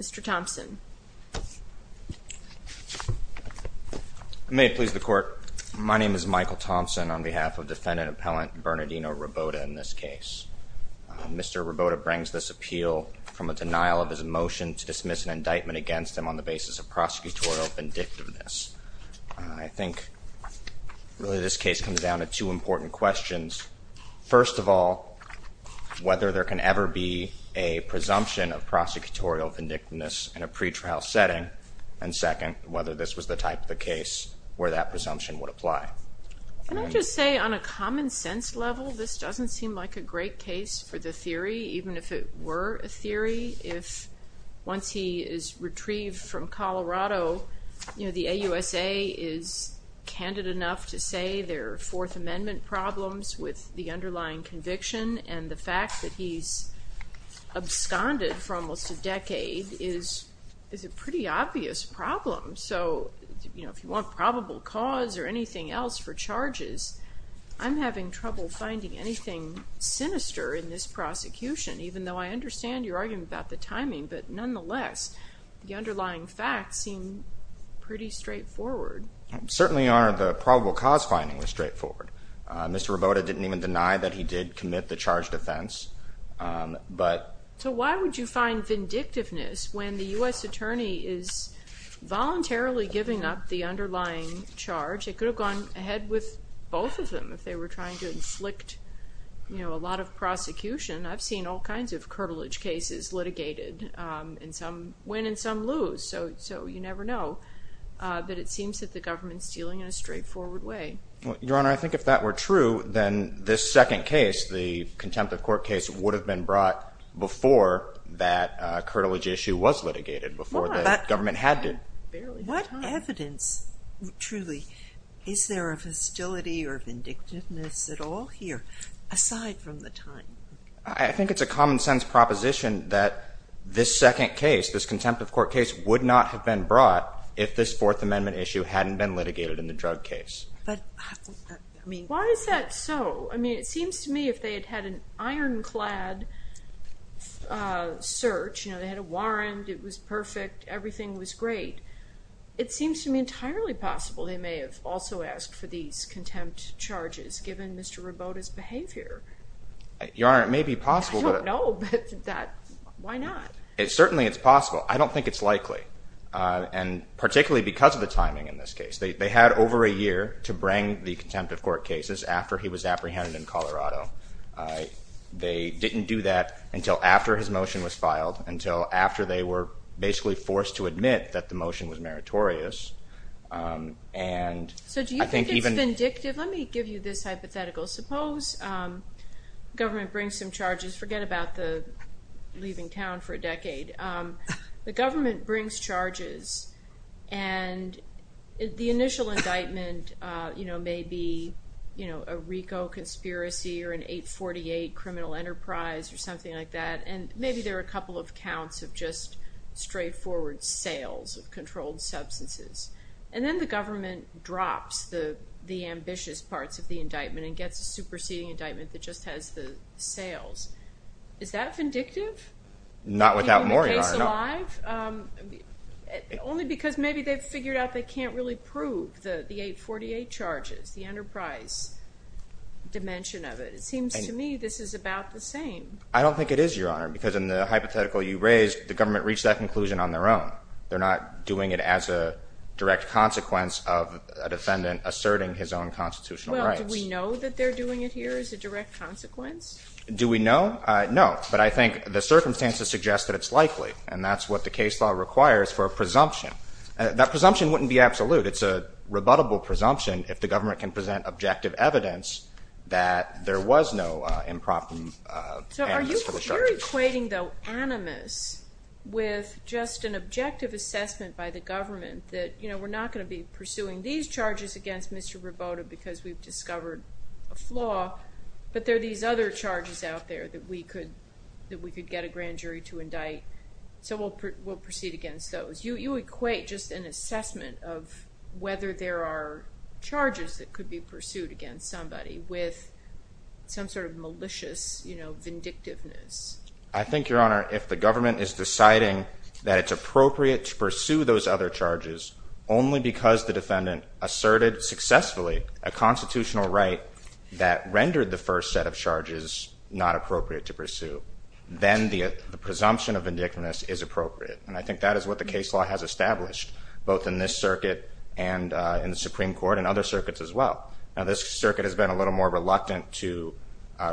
Mr. Thompson. May it please the court. My name is Michael Thompson on behalf of defendant appellant Bernardino Ribota in this case. Mr. Ribota brings this appeal from a denial of his motion to dismiss an indictment against him on the basis of prosecutorial vindictiveness. I think really this case comes down to two important questions. First of all, whether there can ever be a presumption of vindictiveness in a pretrial setting. And second, whether this was the type of the case where that presumption would apply. Can I just say on a common sense level this doesn't seem like a great case for the theory even if it were a theory. If once he is retrieved from Colorado you know the AUSA is candid enough to say their Fourth Amendment problems with the underlying conviction and the fact that he's absconded for almost a decade is is a pretty obvious problem. So you know if you want probable cause or anything else for charges I'm having trouble finding anything sinister in this prosecution even though I understand your argument about the timing but nonetheless the underlying facts seem pretty straightforward. Certainly are the probable cause finding was straightforward. Mr. Rabota didn't even deny that he did commit the charged offense but... So why would you find vindictiveness when the U.S. attorney is voluntarily giving up the underlying charge? It could have gone ahead with both of them if they were trying to inflict you know a lot of prosecution. I've seen all kinds of curvilege cases litigated and some win and some lose so so you never know but it seems that the government's dealing in a straightforward way. Your Honor, I think if that were true then this second case the contempt of court case would have been brought before that curvilege issue was litigated before the government had to. What evidence truly is there of hostility or vindictiveness at all here aside from the time? I think it's a common-sense proposition that this second case this contempt of court case would not have been brought if this Why is that so? I mean it seems to me if they had had an ironclad search you know they had a warrant it was perfect everything was great it seems to me entirely possible they may have also asked for these contempt charges given Mr. Rabota's behavior. Your Honor, it may be possible. I don't know but why not? Certainly it's possible. I don't think it's likely and particularly because of year to bring the contempt of court cases after he was apprehended in Colorado. They didn't do that until after his motion was filed until after they were basically forced to admit that the motion was meritorious. So do you think it's vindictive? Let me give you this hypothetical. Suppose government brings some charges forget about the leaving town for a decade. The government brings charges and the initial indictment you know may be you know a RICO conspiracy or an 848 criminal enterprise or something like that and maybe there are a couple of counts of just straightforward sales of controlled substances and then the government drops the the ambitious parts of the indictment and gets a superseding indictment that just has the sales. Is that vindictive? Not without more, Your Honor. Only because maybe they've figured out they can't really prove the 848 charges, the enterprise dimension of it. It seems to me this is about the same. I don't think it is, Your Honor, because in the hypothetical you raised the government reached that conclusion on their own. They're not doing it as a direct consequence of a defendant asserting his own constitutional rights. Do we know that they're doing it here as a direct consequence? Do we know? No, but I think the circumstances suggest that it's likely and that's what the case law requires for a presumption. That presumption wouldn't be absolute. It's a rebuttable presumption if the government can present objective evidence that there was no improper. So are you equating the animus with just an objective assessment by the government that you know we're not going to be pursuing these charges against Mr. Rabota because we've discovered a flaw but there are these other charges out there that we could get a grand jury to indict. So we'll proceed against those. You equate just an assessment of whether there are charges that could be pursued against somebody with some sort of malicious, you know, vindictiveness. I think, Your Honor, if the government is deciding that it's appropriate to pursue those other charges only because the first set of charges not appropriate to pursue, then the presumption of vindictiveness is appropriate and I think that is what the case law has established both in this circuit and in the Supreme Court and other circuits as well. Now this circuit has been a little more reluctant to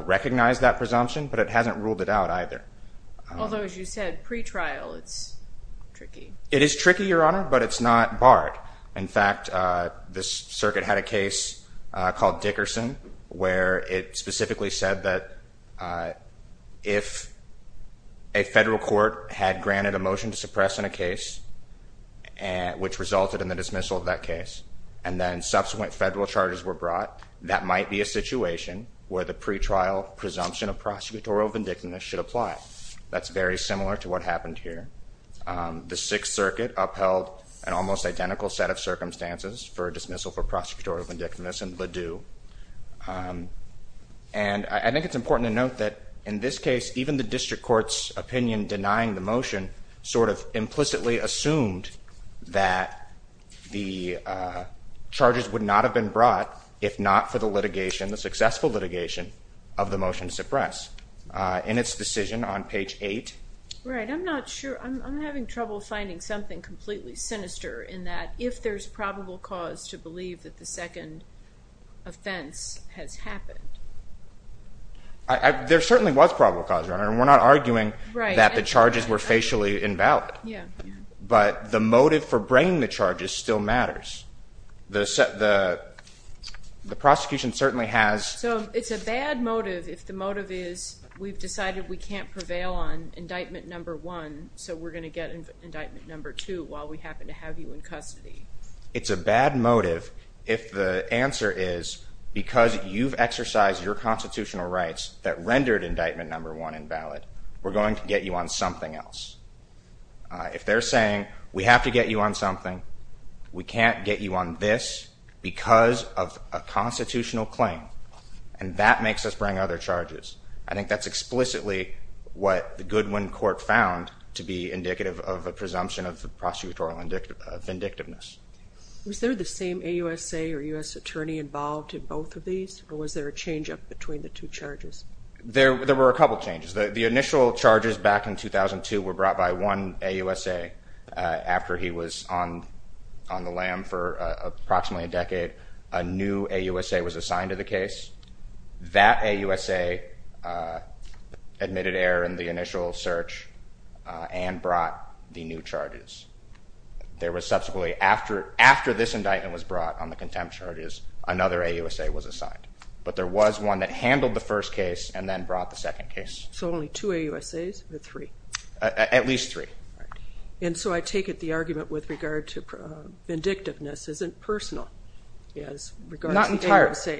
recognize that presumption but it hasn't ruled it out either. Although, as you said, pre-trial it's tricky. It is tricky, Your Honor, but it's not barred. In fact, this circuit had a case called Dickerson where it specifically said that if a federal court had granted a motion to suppress in a case and which resulted in the dismissal of that case and then subsequent federal charges were brought, that might be a situation where the pre-trial presumption of prosecutorial vindictiveness should apply. That's very similar to what happened here. The Sixth Circuit upheld an almost identical set of circumstances for a dismissal for prosecutorial vindictiveness in Ladue and I think it's important to note that in this case even the district court's opinion denying the motion sort of implicitly assumed that the charges would not have been brought if not for the litigation, the successful litigation, of the motion to suppress. In its decision on page 8. Right, I'm not sure. I'm having trouble finding something completely sinister in that if there's probable cause to believe that the second offense has happened. There certainly was probable cause, Your Honor, and we're not arguing that the charges were facially invalid, but the motive for bringing the charges still matters. The prosecution certainly has. So it's a bad motive if the motive is we've decided we can't prevail on indictment number one so we're going to get indictment number two while we happen to have you in custody. It's a bad motive if the answer is because you've exercised your constitutional rights that rendered indictment number one invalid, we're going to get you on something else. If they're saying we have to get you on something, we can't get you on this because of a constitutional claim and that makes us bring other charges. I think that's explicitly what the Goodwin court found to be indicative of a presumption of prosecutorial vindictiveness. Was there the same AUSA or U.S. attorney involved in both of these or was there a changeup between the two charges? There were a couple changes. The initial charges back in 2002 were brought by one AUSA after he was on the lam for approximately a week. A new AUSA was assigned to the case. That AUSA admitted error in the initial search and brought the new charges. There was subsequently after this indictment was brought on the contempt charges, another AUSA was assigned. But there was one that handled the first case and then brought the second case. So only two AUSAs or three? At least three. And so I take it the argument with regard to vindictiveness isn't personal. Not entirely.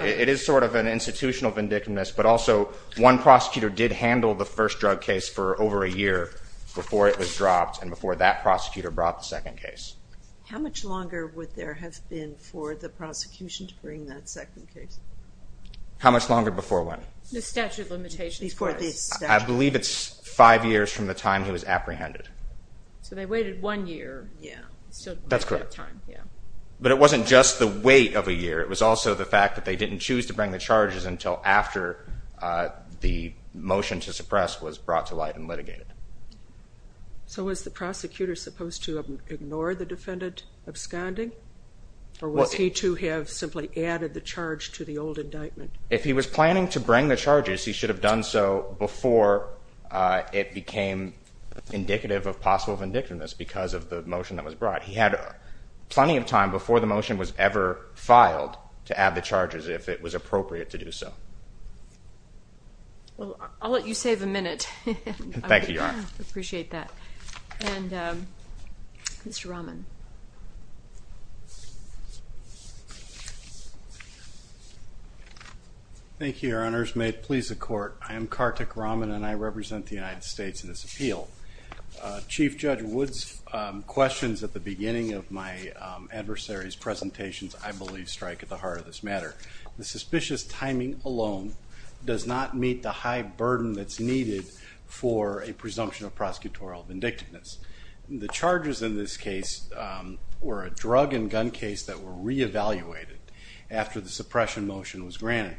It is sort of an institutional vindictiveness but also one prosecutor did handle the first drug case for over a year before it was dropped and before that prosecutor brought the second case. How much longer would there have been for the prosecution to bring that second case? How much longer before when? The statute limitations. I believe it's five years from the time he was apprehended. So they had one year. That's correct. But it wasn't just the wait of a year. It was also the fact that they didn't choose to bring the charges until after the motion to suppress was brought to light and litigated. So was the prosecutor supposed to ignore the defendant absconding? Or was he to have simply added the charge to the old indictment? If he was planning to bring the charges he should have done so before it became indicative of possible vindictiveness because of the motion that was brought. He had plenty of time before the motion was ever filed to add the charges if it was appropriate to do so. I'll let you save a minute. Thank you, Your Honor. I appreciate that. And Mr. Rahman. Thank you, Your Honors. May it please the Court. I am Kartik Rahman and I represent the United States in this appeal. Chief Judge Wood's questions at the beginning of my adversary's presentations I believe strike at the heart of this matter. The suspicious timing alone does not meet the high burden that's needed for a presumption of prosecutorial vindictiveness. The charges in this case were a drug and gun case that were re-evaluated after the suppression motion was granted.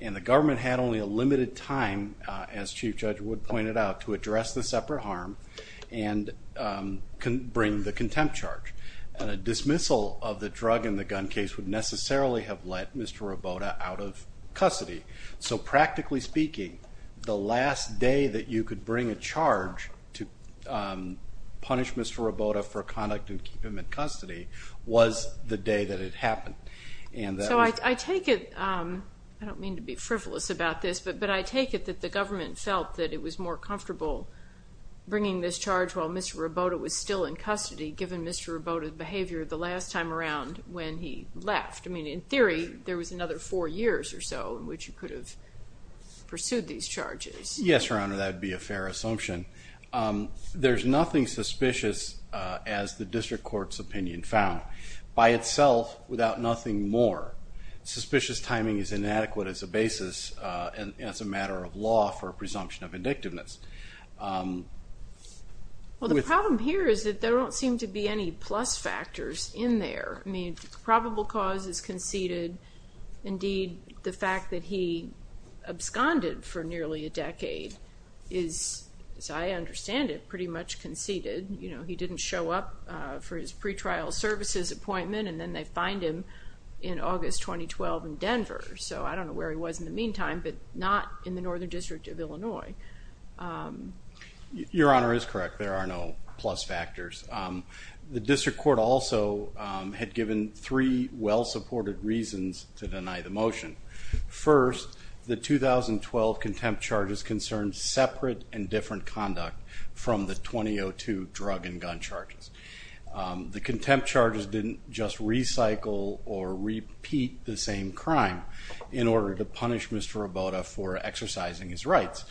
And the government had only a limited time, as Chief Judge Wood pointed out, to address the separate harm and can bring the contempt charge. And a dismissal of the drug and the gun case would necessarily have let Mr. Rabota out of custody. So practically speaking, the last day that you could bring a charge to punish Mr. Rabota for conduct of human custody was the day that it happened. So I take it, I don't mean to be frivolous about this, but I take it that the government felt that it was more comfortable bringing this charge while Mr. Rabota was still in custody given Mr. Rabota's behavior the last time around when he left. I mean, in theory, there was another four years or so in which he could have pursued these charges. Yes, Your Honor, that would be a fair assumption. There's nothing suspicious as the district court's opinion found. By itself, without nothing more, suspicious timing is inadequate as a basis and as a matter of law for a presumption of vindictiveness. Well, the problem here is that there don't seem to be any plus factors in there. I mean, probable cause is conceded. Indeed, the fact that he absconded for nearly a decade is, as I understand it, pretty much conceded. You know, he didn't show up for his pretrial services appointment and then they find him in August 2012 in Denver. So I don't know where he was in the meantime, but not in the Northern District of Illinois. Your Honor is correct, there are no plus factors. The district court also had given three well-supported reasons to the 2012 contempt charges concerned separate and different conduct from the 2002 drug and gun charges. The contempt charges didn't just recycle or repeat the same crime in order to punish Mr. Rabota for exercising his rights.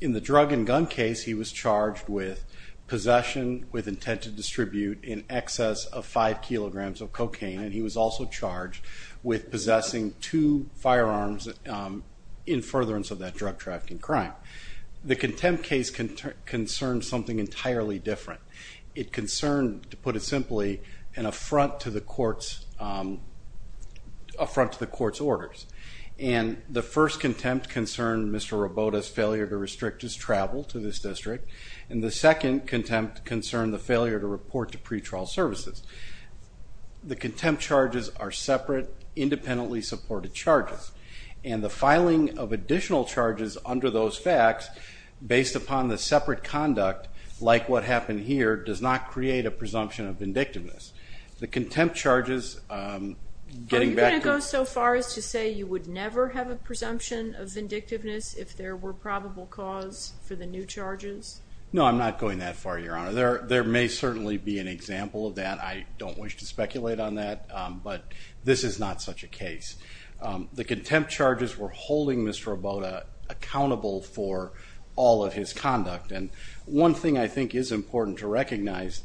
In the drug and gun case, he was charged with possession with intent to distribute in excess of five kilograms of cocaine and he was also charged with possessing two firearms in furtherance of that drug trafficking crime. The contempt case concerned something entirely different. It concerned, to put it simply, an affront to the court's orders. And the first contempt concerned Mr. Rabota's failure to restrict his travel to this district and the second contempt concerned the failure to report to pretrial services. The contempt charges are separate, independently supported charges and the filing of additional charges under those facts, based upon the separate conduct, like what happened here, does not create a presumption of vindictiveness. The contempt charges, getting back to... Are you going to go so far as to say you would never have a presumption of vindictiveness if there were probable cause for the new charges? No, I'm not going that far, Your Honor. There may certainly be an example of that. I this is not such a case. The contempt charges were holding Mr. Rabota accountable for all of his conduct and one thing I think is important to recognize,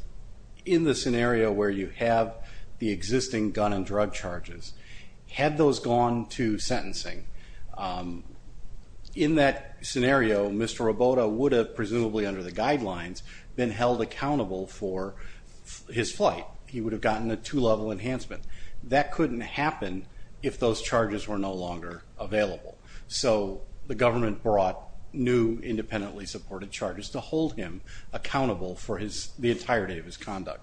in the scenario where you have the existing gun and drug charges, had those gone to sentencing, in that scenario Mr. Rabota would have, presumably under the guidelines, been held accountable for his flight. He would have gotten a two-level enhancement. That couldn't happen if those charges were no longer available. So the government brought new independently supported charges to hold him accountable for the entirety of his conduct.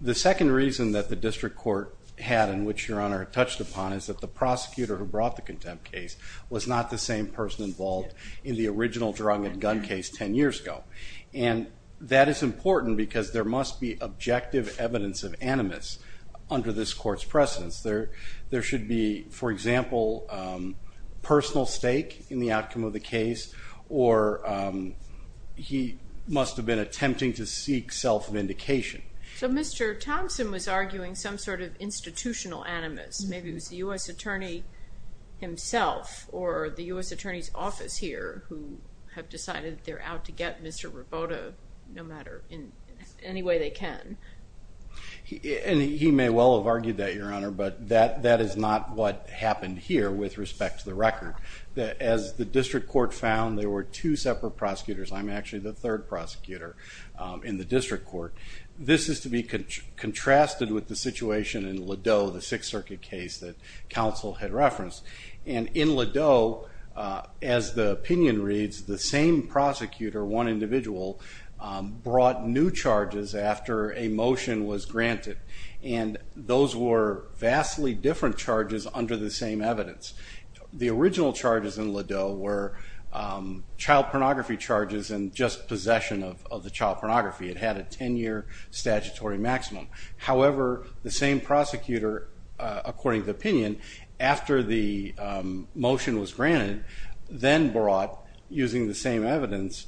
The second reason that the district court had, and which Your Honor touched upon, is that the prosecutor who brought the contempt case was not the same person involved in the original drug and gun case ten years ago. And that is important because there must be objective evidence of animus under this court's precedence. There should be, for example, personal stake in the outcome of the case or he must have been attempting to seek self-indication. So Mr. Thompson was arguing some sort of institutional animus. Maybe it was the U.S. Attorney himself or the U.S. Attorney's Office here who have decided they're out to get Mr. Rabota, no matter in any way they can. And he may well have argued that, Your Honor, but that is not what happened here with respect to the record. As the district court found, there were two separate prosecutors. I'm actually the third prosecutor in the district court. This is to be contrasted with the situation in Ladeau, the Sixth Circuit case that in Ladeau, as the opinion reads, the same prosecutor, one individual, brought new charges after a motion was granted. And those were vastly different charges under the same evidence. The original charges in Ladeau were child pornography charges and just possession of the child pornography. It had a 10-year statutory maximum. However, the same prosecutor, according to opinion, after the motion was granted, then brought, using the same evidence,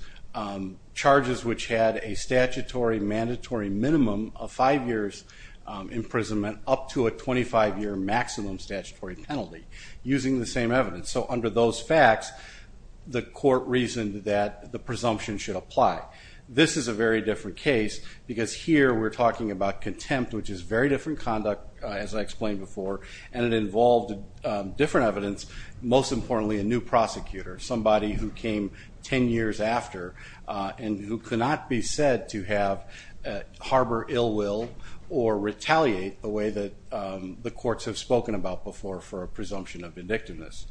charges which had a statutory mandatory minimum of five years imprisonment up to a 25-year maximum statutory penalty, using the same evidence. So under those facts, the court reasoned that the presumption should apply. This is a very different case because here we're talking about contempt, which is very different conduct, as I explained before, and it involved different evidence, most importantly, a new prosecutor, somebody who came 10 years after and who cannot be said to harbor ill will or retaliate the way that the courts have spoken about before for a presumption of indictiveness.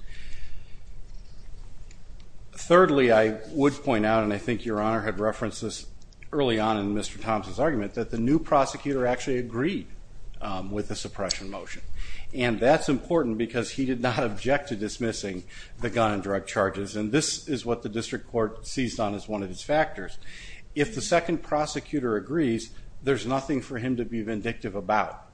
Thirdly, I would point out, and I think Your Honor had referenced this early on in Mr. Thompson's argument, that the new prosecutor actually agreed with the suppression motion, and that's important because he did not object to dismissing the gun and drug charges, and this is what the district court seized on as one of its factors. If the second prosecutor agrees, there's nothing for him to be vindictive about.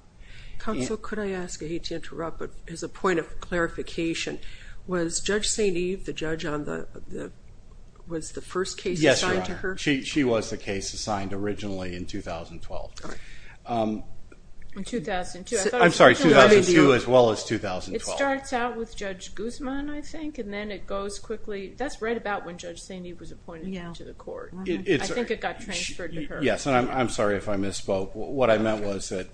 Counsel, could I ask, I hate to interrupt, but as a point of clarification, was Judge St. Eve, the judge on the, was the first case assigned to her? She was the case assigned originally in 2012. In 2002? I'm sorry, 2002 as well as 2012. It starts out with Judge Guzman, I think, and then it goes quickly, that's right about when Judge St. Eve was appointed to the court. I think it got transferred to her. Yes, and I'm sorry if I misspoke. What I meant was that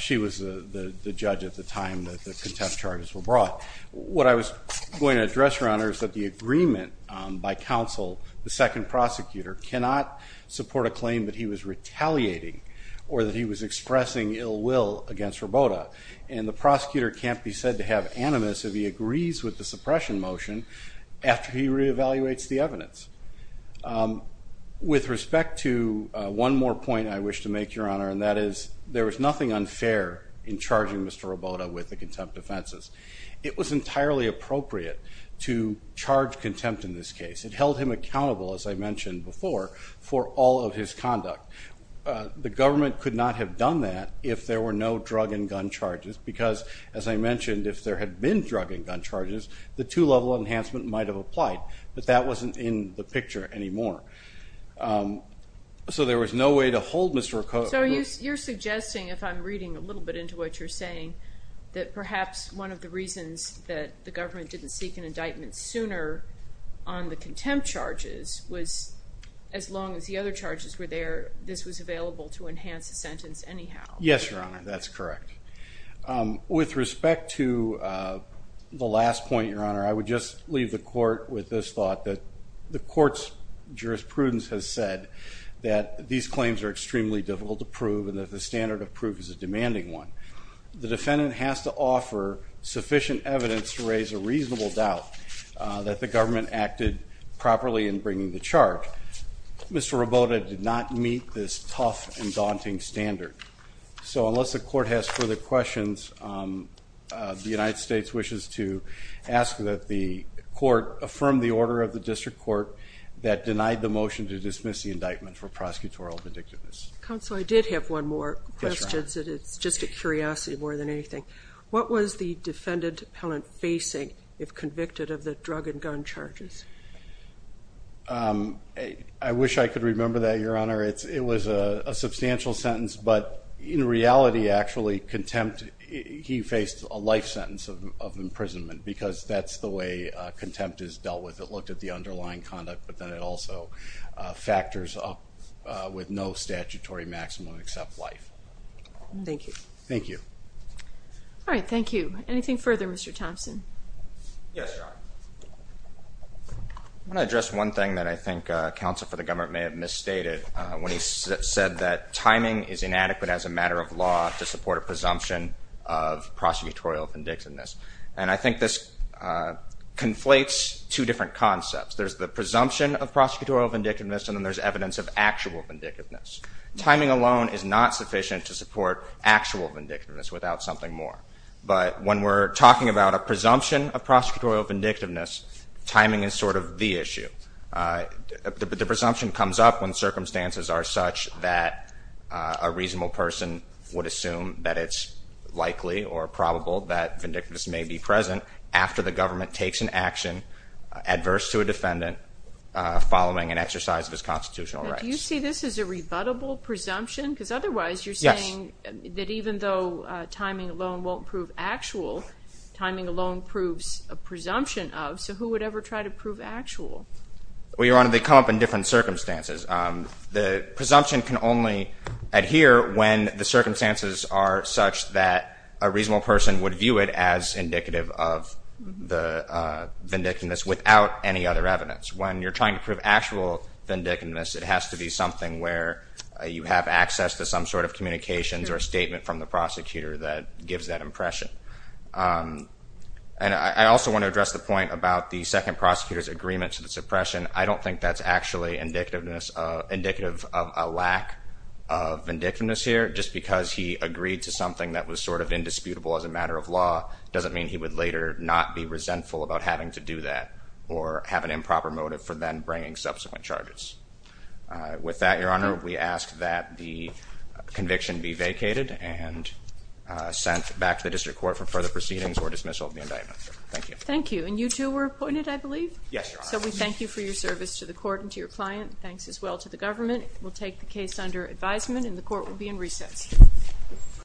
she was the judge at the time that the contempt charges were brought. What I was going to address, Your Honor, is that the agreement by counsel, the second prosecutor, cannot support a claim that he was retaliating or that he was expressing ill will against Robota, and the prosecutor can't be said to have animus if he agrees with the suppression motion after he re-evaluates the evidence. With respect to one more point I wish to make, Your Honor, and that is there was nothing unfair in charging Mr. Robota with the charge contempt in this case. It held him accountable, as I mentioned before, for all of his conduct. The government could not have done that if there were no drug and gun charges because, as I mentioned, if there had been drug and gun charges the two-level enhancement might have applied, but that wasn't in the picture anymore. So there was no way to hold Mr. Robota. So you're suggesting, if I'm reading a little bit into what you're saying, that perhaps one of the reasons that the government was sooner on the contempt charges was, as long as the other charges were there, this was available to enhance the sentence anyhow. Yes, Your Honor, that's correct. With respect to the last point, Your Honor, I would just leave the court with this thought that the court's jurisprudence has said that these claims are extremely difficult to prove and that the standard of proof is a demanding one. The defendant has to offer sufficient evidence to raise a that the government acted properly in bringing the charge. Mr. Robota did not meet this tough and daunting standard. So unless the court has further questions, the United States wishes to ask that the court affirm the order of the District Court that denied the motion to dismiss the indictment for prosecutorial vindictiveness. Counsel, I did have one more question. It's just a curiosity more than anything. What was the defendant appellant facing if convicted of the drug and gun charges? I wish I could remember that, Your Honor. It was a substantial sentence, but in reality, actually, contempt, he faced a life sentence of imprisonment, because that's the way contempt is dealt with. It looked at the underlying conduct, but then it also factors up with no statutory maximum except life. Thank you. Thank you. All right, thank you. Anything further, Mr. Thompson? Yes, Your Honor. I want to address one thing that I think counsel for the government may have misstated when he said that timing is inadequate as a matter of law to support a presumption of prosecutorial vindictiveness. And I think this conflates two different concepts. There's the presumption of prosecutorial vindictiveness and then there's evidence of actual vindictiveness. Timing alone is not sufficient to support actual vindictiveness without something more. But when we're talking about a presumption of prosecutorial vindictiveness, timing is sort of the issue. The presumption comes up when circumstances are such that a reasonable person would assume that it's likely or probable that vindictiveness may be present after the government takes an action adverse to a defendant following an exercise of his constitutional rights. Do you see this as a rebuttable presumption? Because otherwise you're saying that even though timing alone won't prove actual, timing alone proves a presumption of, so who would ever try to prove actual? Well, Your Honor, they come up in different circumstances. The presumption can only adhere when the circumstances are such that a reasonable person would view it as indicative of the vindictiveness without any other evidence. When you're trying to prove actual vindictiveness, it has to be something where you have access to some sort of communications or statement from the prosecutor that gives that impression. And I also want to address the point about the second prosecutor's agreement to the suppression. I don't think that's actually indicative of a lack of vindictiveness here. Just because he agreed to something that was sort of indisputable as a matter of law doesn't mean he would later not be resentful about having to do that or have an improper motive for then bringing subsequent charges. With that, Your Honor, we ask that the conviction be vacated and sent back to the district court for further proceedings or dismissal of the indictment. Thank you. Thank you. And you two were appointed, I believe? Yes, Your Honor. So we thank you for your service to the court and to your client. Thanks as well to the government. We'll take the case under advisement and the court will be in recess.